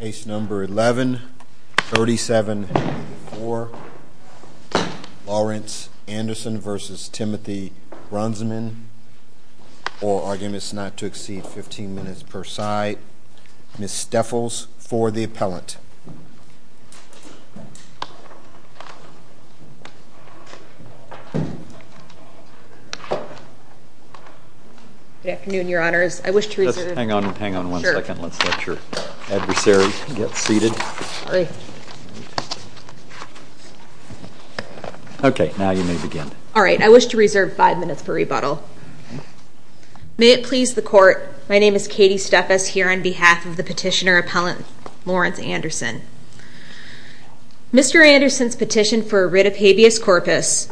Case number 11-37-4, Lawrence Anderson v. Timothy Brunsman. All arguments not to exceed 15 minutes per side. Ms. Steffels for the appellant. Good afternoon, your honors. I wish to reserve... Hang on, hang on one second. Let's let your adversary get seated. Okay, now you may begin. All right, I wish to reserve five minutes for rebuttal. May it please the court, my name is Katie Steffels here on behalf of the petitioner appellant, Lawrence Anderson. Mr. Anderson's petition for writ of habeas corpus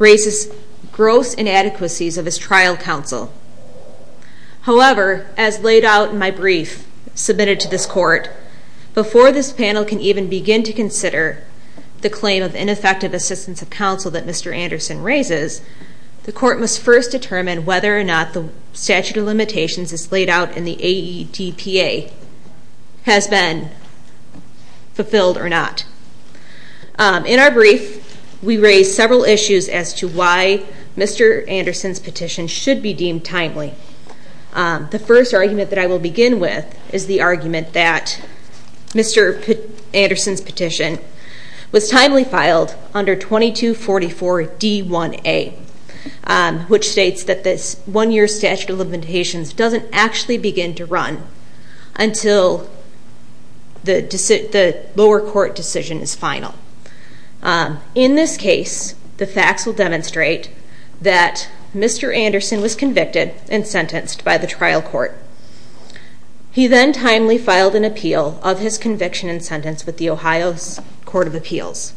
raises gross inadequacies of his trial counsel. However, as laid out in my brief submitted to this court, before this panel can even begin to consider the claim of ineffective assistance of counsel that Mr. Anderson raises, the court must first determine whether or not the statute of limitations as laid out in the AEDPA has been fulfilled or not. In our brief, we raise several issues as to why Mr. Anderson's petition should be deemed timely. The first argument that I will begin with is the argument that Mr. Anderson's petition was timely filed under 2244 D1A, which states that this one-year statute of limitations doesn't actually begin to run until the lower court decision is final. In this case, the facts will demonstrate that Mr. Anderson was convicted and sentenced by the trial court. He then timely filed an appeal of his conviction and sentence with the Ohio Court of Appeals.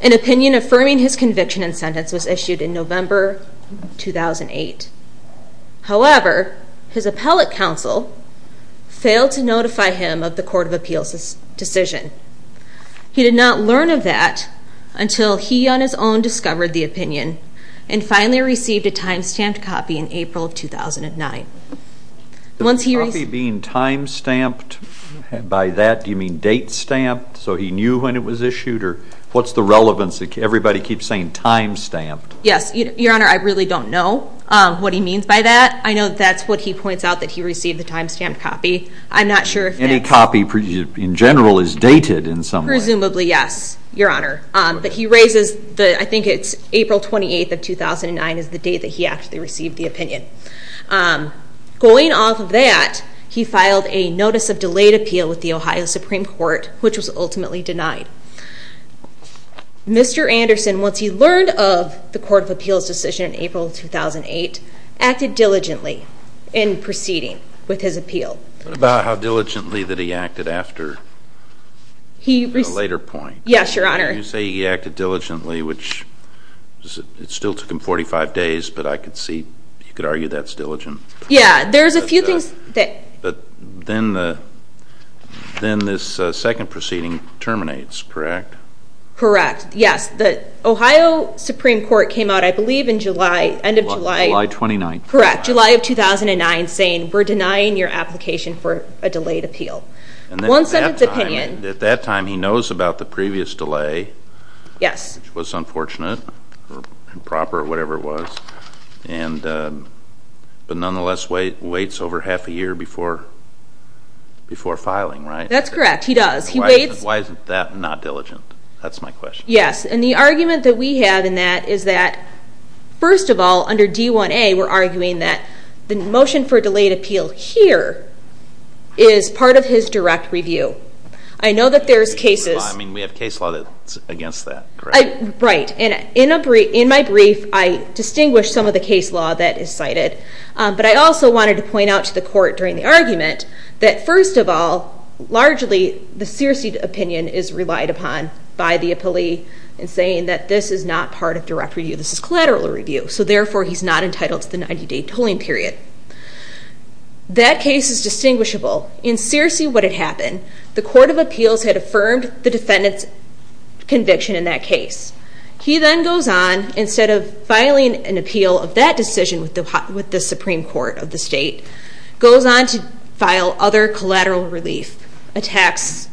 An opinion affirming his conviction and sentence was issued in November 2008. However, his appellate counsel failed to notify him of the Court of Appeals' decision. He did not learn of that until he on his own discovered the opinion and finally received a time-stamped copy in April of 2009. The copy being time-stamped, by that, do you mean date-stamped, so he knew when it was issued, or what's the relevance? Everybody keeps saying time-stamped. Yes, Your Honor, I really don't know what he means by that. I know that's what he points out, that he received a time-stamped copy. I'm not sure if any copy in general is dated in some way. Presumably, yes, Your Honor. But he raises, I think it's April 28th of 2009 is the date that he actually received the opinion. Going off of that, he filed a Notice of Delayed Appeal with the Ohio Supreme Court, which was ultimately denied. Mr. Anderson, once he learned of the Court of Appeals' decision in April 2008, acted diligently in proceeding with his appeal. What about how diligently that he acted after a later point? Yes, Your Honor. You say he acted diligently, which, it still took him 45 days, but I could see, you could argue that's diligent. Yes, there's a few things. But then this second proceeding terminates, correct? Correct, yes. The Ohio Supreme Court came out, I believe, in July, end of July. July 29th. Correct, July of 2009, saying, we're denying your application for a delayed appeal. At that time, he knows about the previous delay, which was unfortunate, improper, whatever it was, but nonetheless waits over half a year before filing, right? That's correct, he does. Why isn't that not diligent? That's my question. Yes, and the argument that we have in that is that, first of all, under D1A, they were arguing that the motion for a delayed appeal here is part of his direct review. I know that there's cases. I mean, we have case law that's against that, correct? Right, and in my brief, I distinguish some of the case law that is cited, but I also wanted to point out to the Court during the argument that, first of all, largely the Searcy opinion is relied upon by the appellee in saying that this is not part of direct review. This is collateral review, so therefore he's not entitled to the 90-day tolling period. That case is distinguishable. In Searcy, what had happened, the Court of Appeals had affirmed the defendant's conviction in that case. He then goes on, instead of filing an appeal of that decision with the Supreme Court of the state, goes on to file other collateral relief attacks,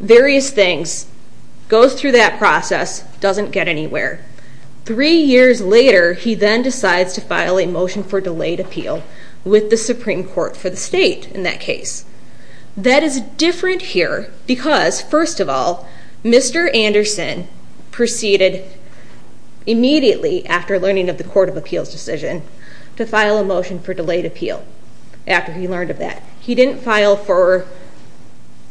various things, goes through that process, doesn't get anywhere. Three years later, he then decides to file a motion for delayed appeal with the Supreme Court for the state in that case. That is different here because, first of all, Mr. Anderson proceeded immediately after learning of the Court of Appeals decision to file a motion for delayed appeal after he learned of that. He didn't file for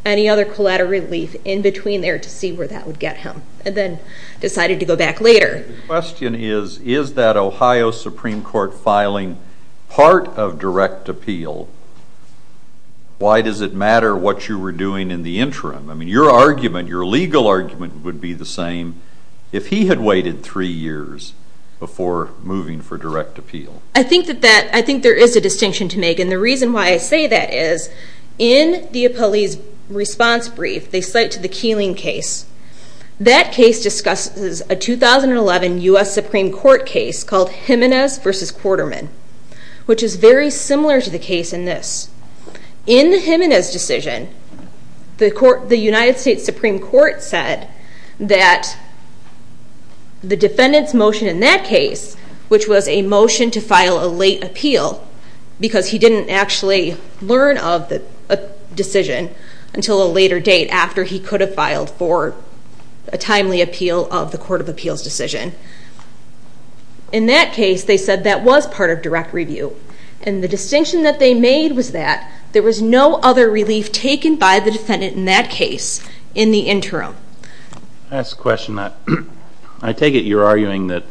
any other collateral relief in between there to see where that would get him and then decided to go back later. The question is, is that Ohio Supreme Court filing part of direct appeal, why does it matter what you were doing in the interim? I mean, your argument, your legal argument would be the same if he had waited three years before moving for direct appeal. I think there is a distinction to make, and the reason why I say that is, in the appellee's response brief, they cite to the Keeling case. That case discusses a 2011 U.S. Supreme Court case called Jimenez v. Quarterman, which is very similar to the case in this. In the Jimenez decision, the United States Supreme Court said that the defendant's motion in that case, which was a motion to file a late appeal because he didn't actually learn of the decision until a later date after he could have filed for a timely appeal of the Court of Appeals decision. In that case, they said that was part of direct review, and the distinction that they made was that there was no other relief taken by the defendant in that case in the interim. Last question. I take it you're arguing that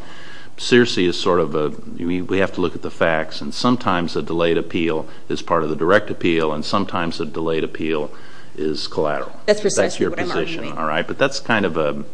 Searcy is sort of a, we have to look at the facts, and sometimes a delayed appeal is part of the direct appeal, and sometimes a delayed appeal is collateral. That's precisely what I'm arguing. All right, but that's kind of a,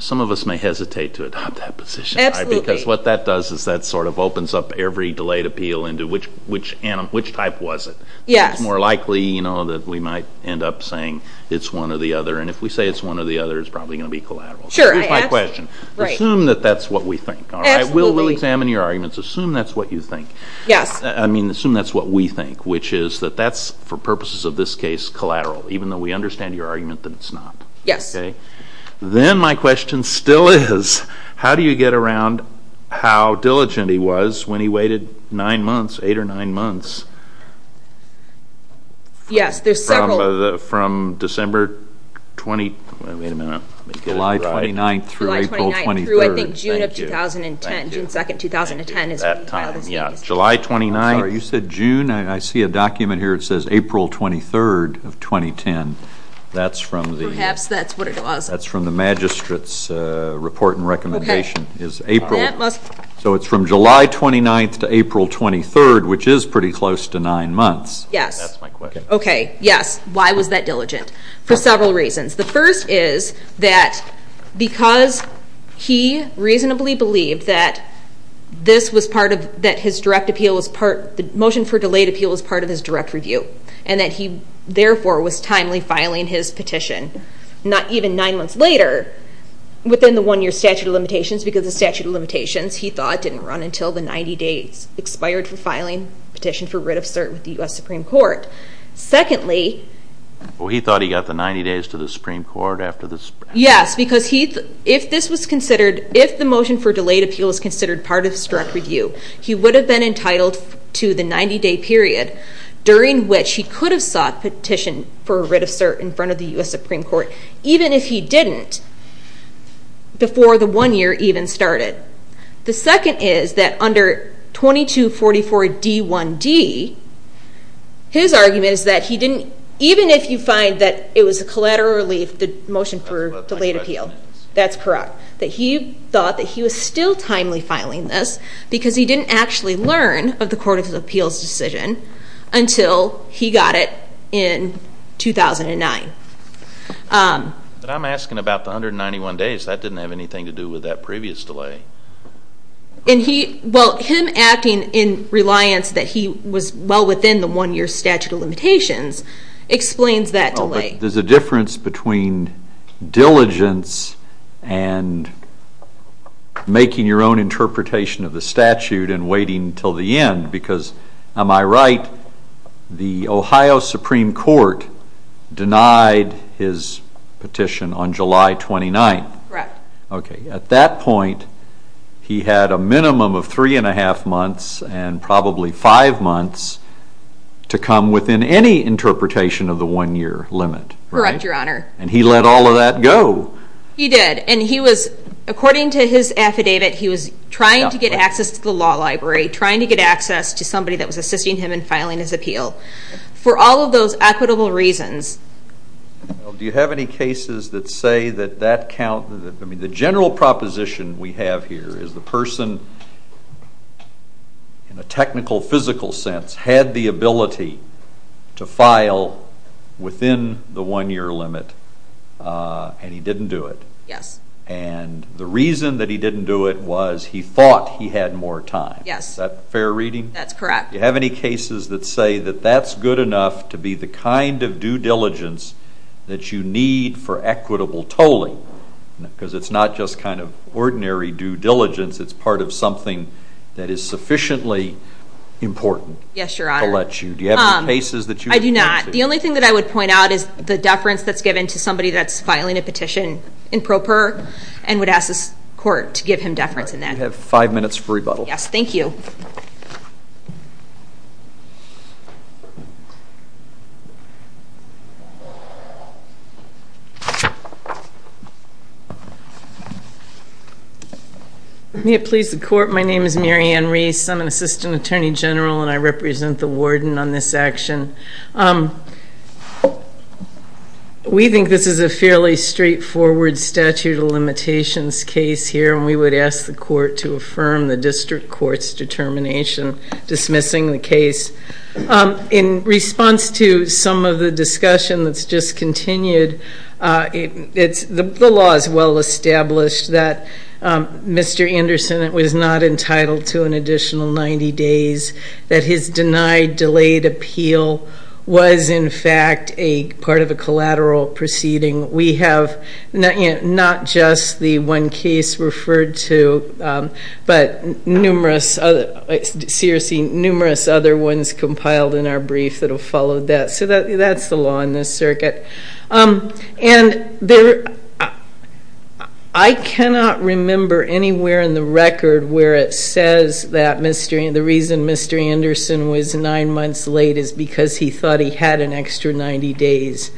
some of us may hesitate to adopt that position. Absolutely. Because what that does is that sort of opens up every delayed appeal into which type was it. It's more likely that we might end up saying it's one or the other, and if we say it's one or the other, it's probably going to be collateral. Here's my question. Assume that that's what we think. Absolutely. We'll examine your arguments. Assume that's what you think. Yes. I mean, assume that's what we think, which is that that's, for purposes of this case, collateral, even though we understand your argument that it's not. Yes. Then my question still is, how do you get around how diligent he was when he waited nine months, eight or nine months? Yes, there's several. From December 20, wait a minute. July 29th through April 23rd. July 29th through, I think, June of 2010, June 2nd, 2010. That time, yeah. July 29th. I'm sorry, you said June? I see a document here that says April 23rd of 2010. That's from the. Perhaps that's what it was. That's from the magistrate's report and recommendation. Okay. So it's from July 29th to April 23rd, which is pretty close to nine months. Yes. That's my question. Okay. Yes. Why was that diligent? For several reasons. The first is that because he reasonably believed that this was part of, that his direct appeal, the motion for delayed appeal was part of his direct review, and that he, therefore, was timely filing his petition, not even nine months later, within the one-year statute of limitations, because the statute of limitations, he thought, didn't run until the 90 days expired for filing petition for writ of cert with the U.S. Supreme Court. Secondly. Well, he thought he got the 90 days to the Supreme Court after the. Yes, because he, if this was considered, if the motion for delayed appeal was considered part of his direct review, he would have been entitled to the 90-day period during which he could have sought petition for a writ of cert in front of the U.S. Supreme Court, even if he didn't, before the one-year even started. The second is that under 2244D1D, his argument is that he didn't, even if you find that it was a collateral relief, the motion for delayed appeal. That's correct. That he thought that he was still timely filing this, because he didn't actually learn of the Court of Appeals decision until he got it in 2009. But I'm asking about the 191 days. That didn't have anything to do with that previous delay. And he, well, him acting in reliance that he was well within the one-year statute of limitations explains that delay. There's a difference between diligence and making your own interpretation of the statute and waiting until the end, because, am I right, the Ohio Supreme Court denied his petition on July 29th? Correct. Okay. At that point, he had a minimum of three and a half months and probably five months to come within any interpretation of the one-year limit, right? Correct, Your Honor. And he let all of that go. He did. And he was, according to his affidavit, he was trying to get access to the law library, trying to get access to somebody that was assisting him in filing his appeal, for all of those equitable reasons. Do you have any cases that say that that count? I mean, the general proposition we have here is the person, in a technical, physical sense, had the ability to file within the one-year limit, and he didn't do it. Yes. And the reason that he didn't do it was he thought he had more time. Yes. Is that fair reading? That's correct. Do you have any cases that say that that's good enough to be the kind of due diligence that you need for equitable tolling? Because it's not just kind of ordinary due diligence. It's part of something that is sufficiently important. Yes, Your Honor. Do you have any cases that you can point to? I do not. The only thing that I would point out is the deference that's given to somebody that's and would ask the court to give him deference in that. You have five minutes for rebuttal. Yes. Thank you. May it please the Court, my name is Mary Ann Reese. I'm an assistant attorney general, and I represent the warden on this action. We think this is a fairly straightforward statute of limitations case here, and we would ask the court to affirm the district court's determination dismissing the case. In response to some of the discussion that's just continued, the law is well established that Mr. Anderson was not entitled to an additional 90 days, that his denied, delayed appeal was, in fact, part of a collateral proceeding. We have not just the one case referred to, but numerous other ones compiled in our brief that have followed that. So that's the law in this circuit. And I cannot remember anywhere in the record where it says that Mr. Anderson was nine months late is because he thought he had an extra 90 days.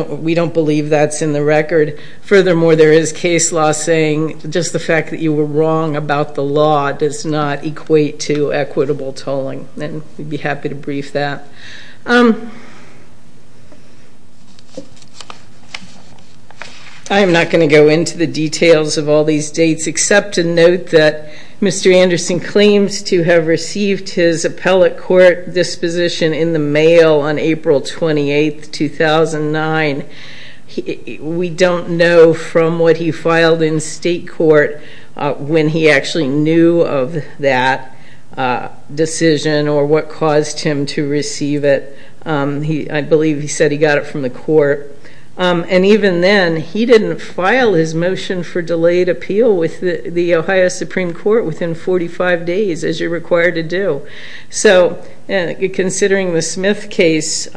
We don't believe that's in the record. Furthermore, there is case law saying just the fact that you were wrong about the law does not equate to equitable tolling, and we'd be happy to brief that. I am not going to go into the details of all these dates, except to note that Mr. Anderson claims to have received his appellate court disposition in the mail on April 28, 2009. We don't know from what he filed in state court when he actually knew of that decision or what caused him to receive it. I believe he said he got it from the court. And even then, he didn't file his motion for delayed appeal with the Ohio Supreme Court within 45 days, as you're required to do. So considering the Smith case,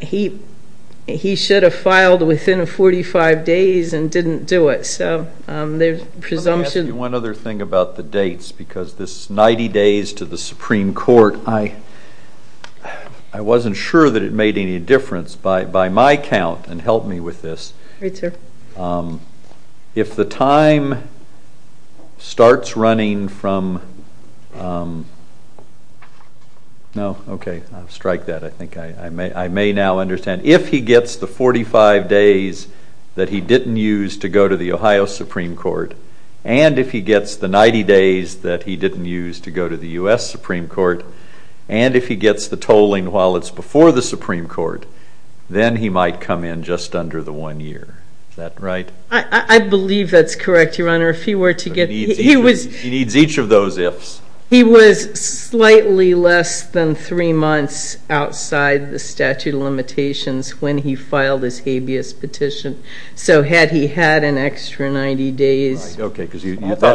he should have filed within 45 days and didn't do it. Let me ask you one other thing about the dates, because this 90 days to the Supreme Court, I wasn't sure that it made any difference. By my count, and help me with this, if the time starts running from, no, okay, I'll strike that. I think I may now understand. If he gets the 45 days that he didn't use to go to the Ohio Supreme Court, and if he gets the 90 days that he didn't use to go to the U.S. Supreme Court, and if he gets the tolling while it's before the Supreme Court, then he might come in just under the one year. Is that right? I believe that's correct, Your Honor. He needs each of those ifs. He was slightly less than three months outside the statute of limitations when he filed his habeas petition. So had he had an extra 90 days? Okay, because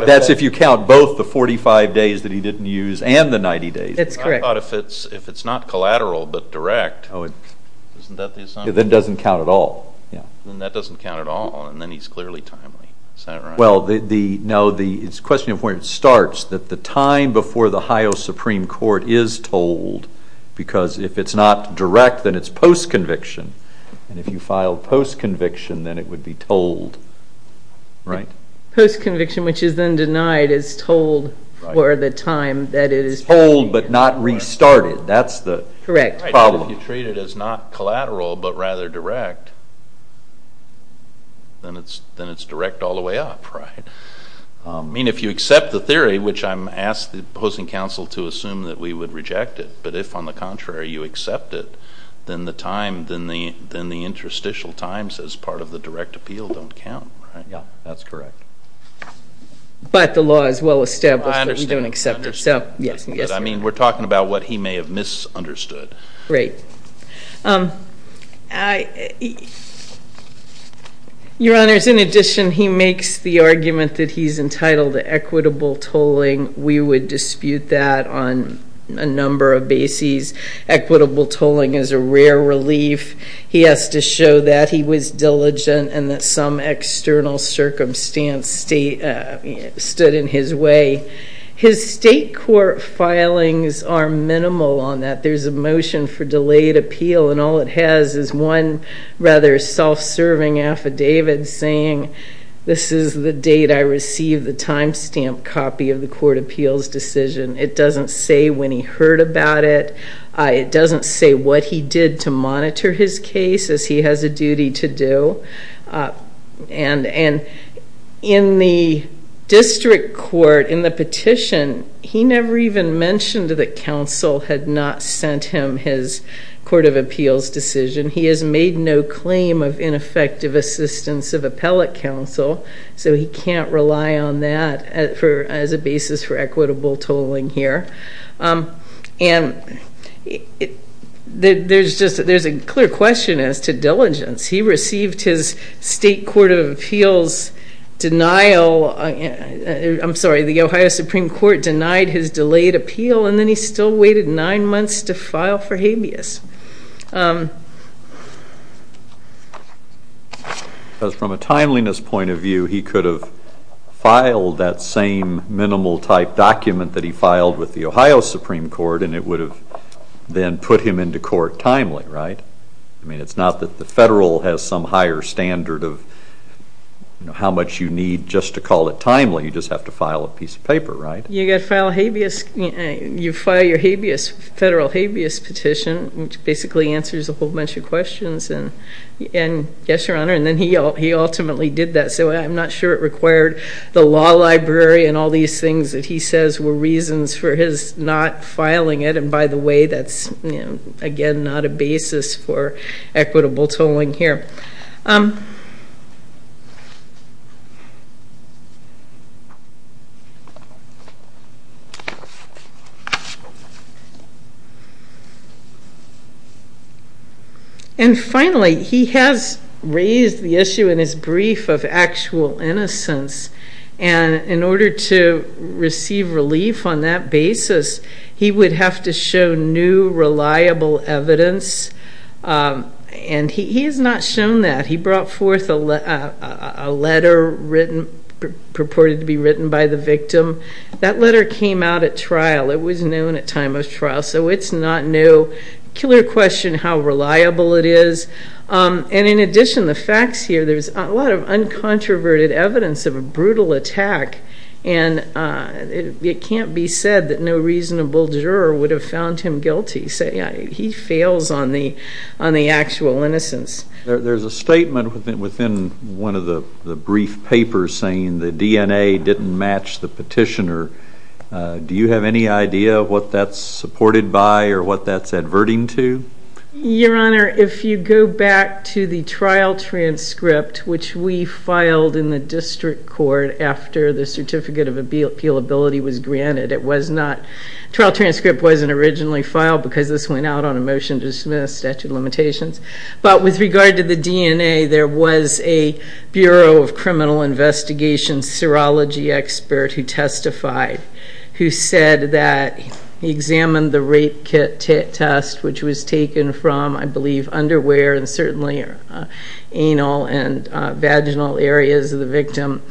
that's if you count both the 45 days that he didn't use and the 90 days. That's correct. I thought if it's not collateral but direct, isn't that the assumption? Then it doesn't count at all. Then that doesn't count at all, and then he's clearly timely. Is that right? Well, no, the question starts that the time before the Ohio Supreme Court is tolled, because if it's not direct, then it's post-conviction. And if you file post-conviction, then it would be tolled. Right? Post-conviction, which is then denied, is tolled for the time that it is tolled. It's tolled but not restarted. That's the problem. Correct. If you treat it as not collateral but rather direct, then it's direct all the way up, right? I mean, if you accept the theory, which I'm asking the opposing counsel to assume that we would reject it, but if, on the contrary, you accept it, then the interstitial times as part of the direct appeal don't count, right? Yeah, that's correct. But the law is well established that we don't accept it. I understand. But I mean, we're talking about what he may have misunderstood. Right. Your Honors, in addition, he makes the argument that he's entitled to equitable tolling. We would dispute that on a number of bases. Equitable tolling is a rare relief. He has to show that he was diligent and that some external circumstance stood in his way. His state court filings are minimal on that. There's a motion for delayed appeal, and all it has is one rather self-serving affidavit saying, this is the date I received the time stamp copy of the court appeals decision. It doesn't say when he heard about it. It doesn't say what he did to monitor his case, as he has a duty to do. And in the district court, in the petition, he never even mentioned that counsel had not sent him his court of appeals decision. He has made no claim of ineffective assistance of appellate counsel, so he can't rely on that as a basis for equitable tolling here. And there's a clear question as to diligence. He received his state court of appeals denial. I'm sorry, the Ohio Supreme Court denied his delayed appeal, and then he still waited nine months to file for habeas. Because from a timeliness point of view, he could have filed that same minimal-type document that he filed with the Ohio Supreme Court, and it would have then put him into court timely, right? I mean, it's not that the federal has some higher standard of how much you need just to call it timely. You just have to file a piece of paper, right? You file your federal habeas petition, which basically answers a whole bunch of questions. And yes, Your Honor, and then he ultimately did that. So I'm not sure it required the law library and all these things that he says were reasons for his not filing it. And by the way, that's, again, not a basis for equitable tolling here. And finally, he has raised the issue in his brief of actual innocence. And in order to receive relief on that basis, he would have to show new, reliable evidence. And he has not shown that. He brought forth a letter written, purported to be written by the victim. That letter came out at trial. It was known at time of trial, so it's not new. Killer question how reliable it is. And in addition, the facts here, there's a lot of uncontroverted evidence of a brutal attack. And it can't be said that no reasonable juror would have found him guilty. He fails on the actual innocence. There's a statement within one of the brief papers saying the DNA didn't match the petitioner. Do you have any idea what that's supported by or what that's adverting to? Your Honor, if you go back to the trial transcript, which we filed in the district court after the Certificate of Appealability was granted, it was not. Trial transcript wasn't originally filed because this went out on a motion to dismiss statute of limitations. But with regard to the DNA, there was a Bureau of Criminal Investigation serology expert who testified, who said that he examined the rape test, which was taken from, I believe, underwear and certainly anal and vaginal areas of the victim,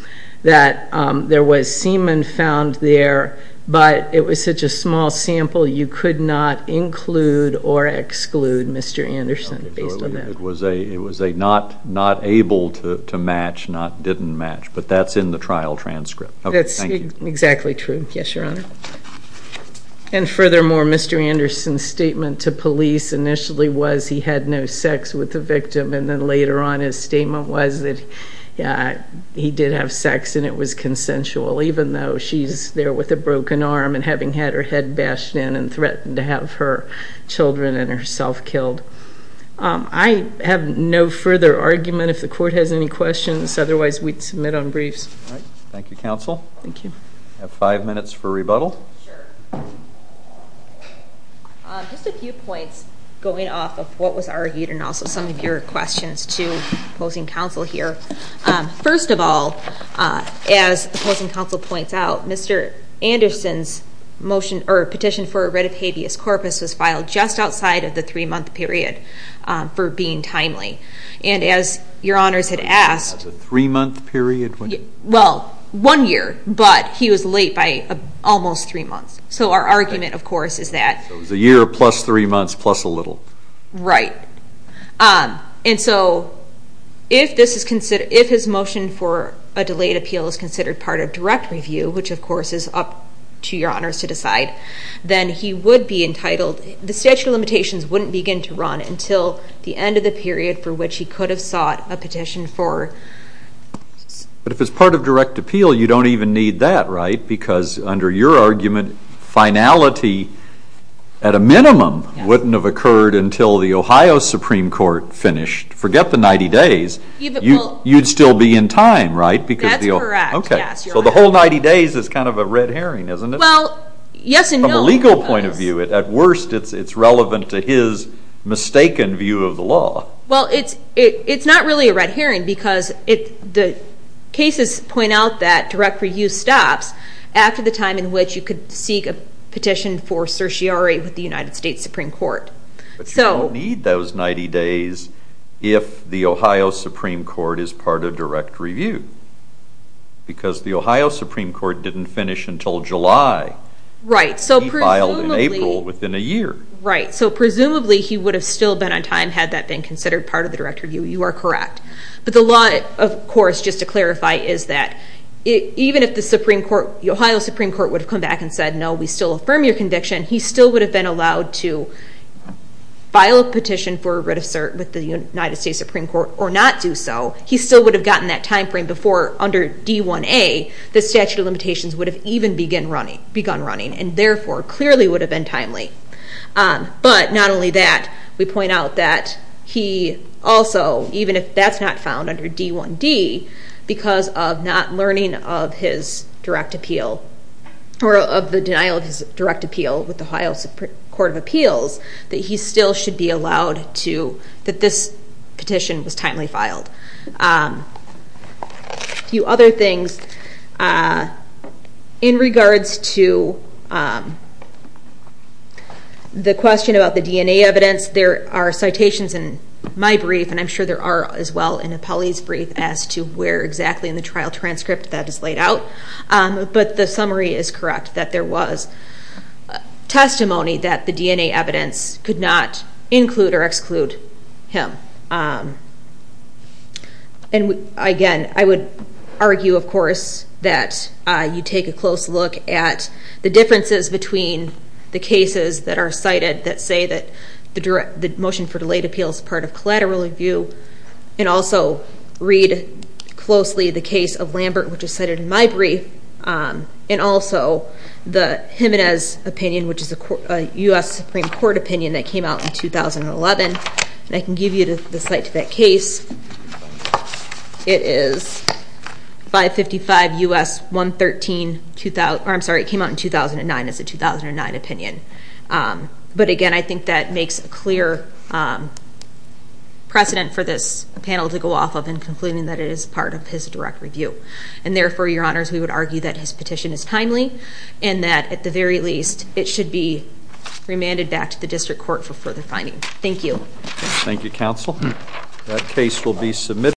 that there was semen found there, but it was such a small sample you could not include or exclude Mr. Anderson based on that. So it was a not able to match, not didn't match, but that's in the trial transcript. That's exactly true. Yes, Your Honor. And furthermore, Mr. Anderson's statement to police initially was he had no sex with the victim and then later on his statement was that he did have sex and it was consensual, even though she's there with a broken arm and having had her head bashed in and threatened to have her children and herself killed. I have no further argument. If the court has any questions, otherwise we'd submit on briefs. All right. Thank you, counsel. Thank you. I have five minutes for rebuttal. Sure. Just a few points going off of what was argued and also some of your questions to opposing counsel here. First of all, as opposing counsel points out, Mr. Anderson's petition for a writ of habeas corpus was filed just outside of the three-month period for being timely. And as Your Honors had asked- Was it a three-month period? Well, one year, but he was late by almost three months. So our argument, of course, is that- So it was a year plus three months plus a little. Right. And so if his motion for a delayed appeal is considered part of direct review, which of course is up to Your Honors to decide, then he would be entitled- the statute of limitations wouldn't begin to run until the end of the period for which he could have sought a petition for- But if it's part of direct appeal, you don't even need that, right? Because under your argument, finality at a minimum wouldn't have occurred until the Ohio Supreme Court finished. Forget the 90 days. You'd still be in time, right? That's correct. Yes. So the whole 90 days is kind of a red herring, isn't it? Well, yes and no. From a legal point of view, at worst, it's relevant to his mistaken view of the law. Well, it's not really a red herring because the cases point out that direct review stops after the time in which you could seek a petition for certiorari with the United States Supreme Court. But you don't need those 90 days if the Ohio Supreme Court is part of direct review because the Ohio Supreme Court didn't finish until July. Right, so presumably- He filed in April within a year. Right, so presumably he would have still been on time had that been considered part of the direct review. You are correct. But the law, of course, just to clarify, is that even if the Ohio Supreme Court would have come back and said, no, we still affirm your conviction, he still would have been allowed to file a petition for a writ of cert with the United States Supreme Court or not do so. He still would have gotten that time frame before under D1A, the statute of limitations would have even begun running and therefore clearly would have been timely. But not only that, we point out that he also, even if that's not found under D1D, because of not learning of his direct appeal or of the denial of his direct appeal with the Ohio Supreme Court of Appeals, that he still should be allowed to- that this petition was timely filed. A few other things. In regards to the question about the DNA evidence, there are citations in my brief and I'm sure there are as well in Apali's brief as to where exactly in the trial transcript that is laid out. But the summary is correct that there was testimony that the DNA evidence could not include or exclude him. And again, I would argue, of course, that you take a close look at the differences between the cases that are cited that say that the motion for delayed appeal is part of collateral review and also read closely the case of Lambert, which is cited in my brief, and also the Jimenez opinion, which is a U.S. Supreme Court opinion that came out in 2011. And I can give you the site of that case. It is 555 U.S. 113- I'm sorry, it came out in 2009. It's a 2009 opinion. But again, I think that makes a clear precedent for this panel to go off of in concluding that it is part of his direct review. And therefore, Your Honors, we would argue that his petition is timely and that, at the very least, it should be remanded back to the district court for further finding. Thank you. Thank you, Counsel. That case will be submitted.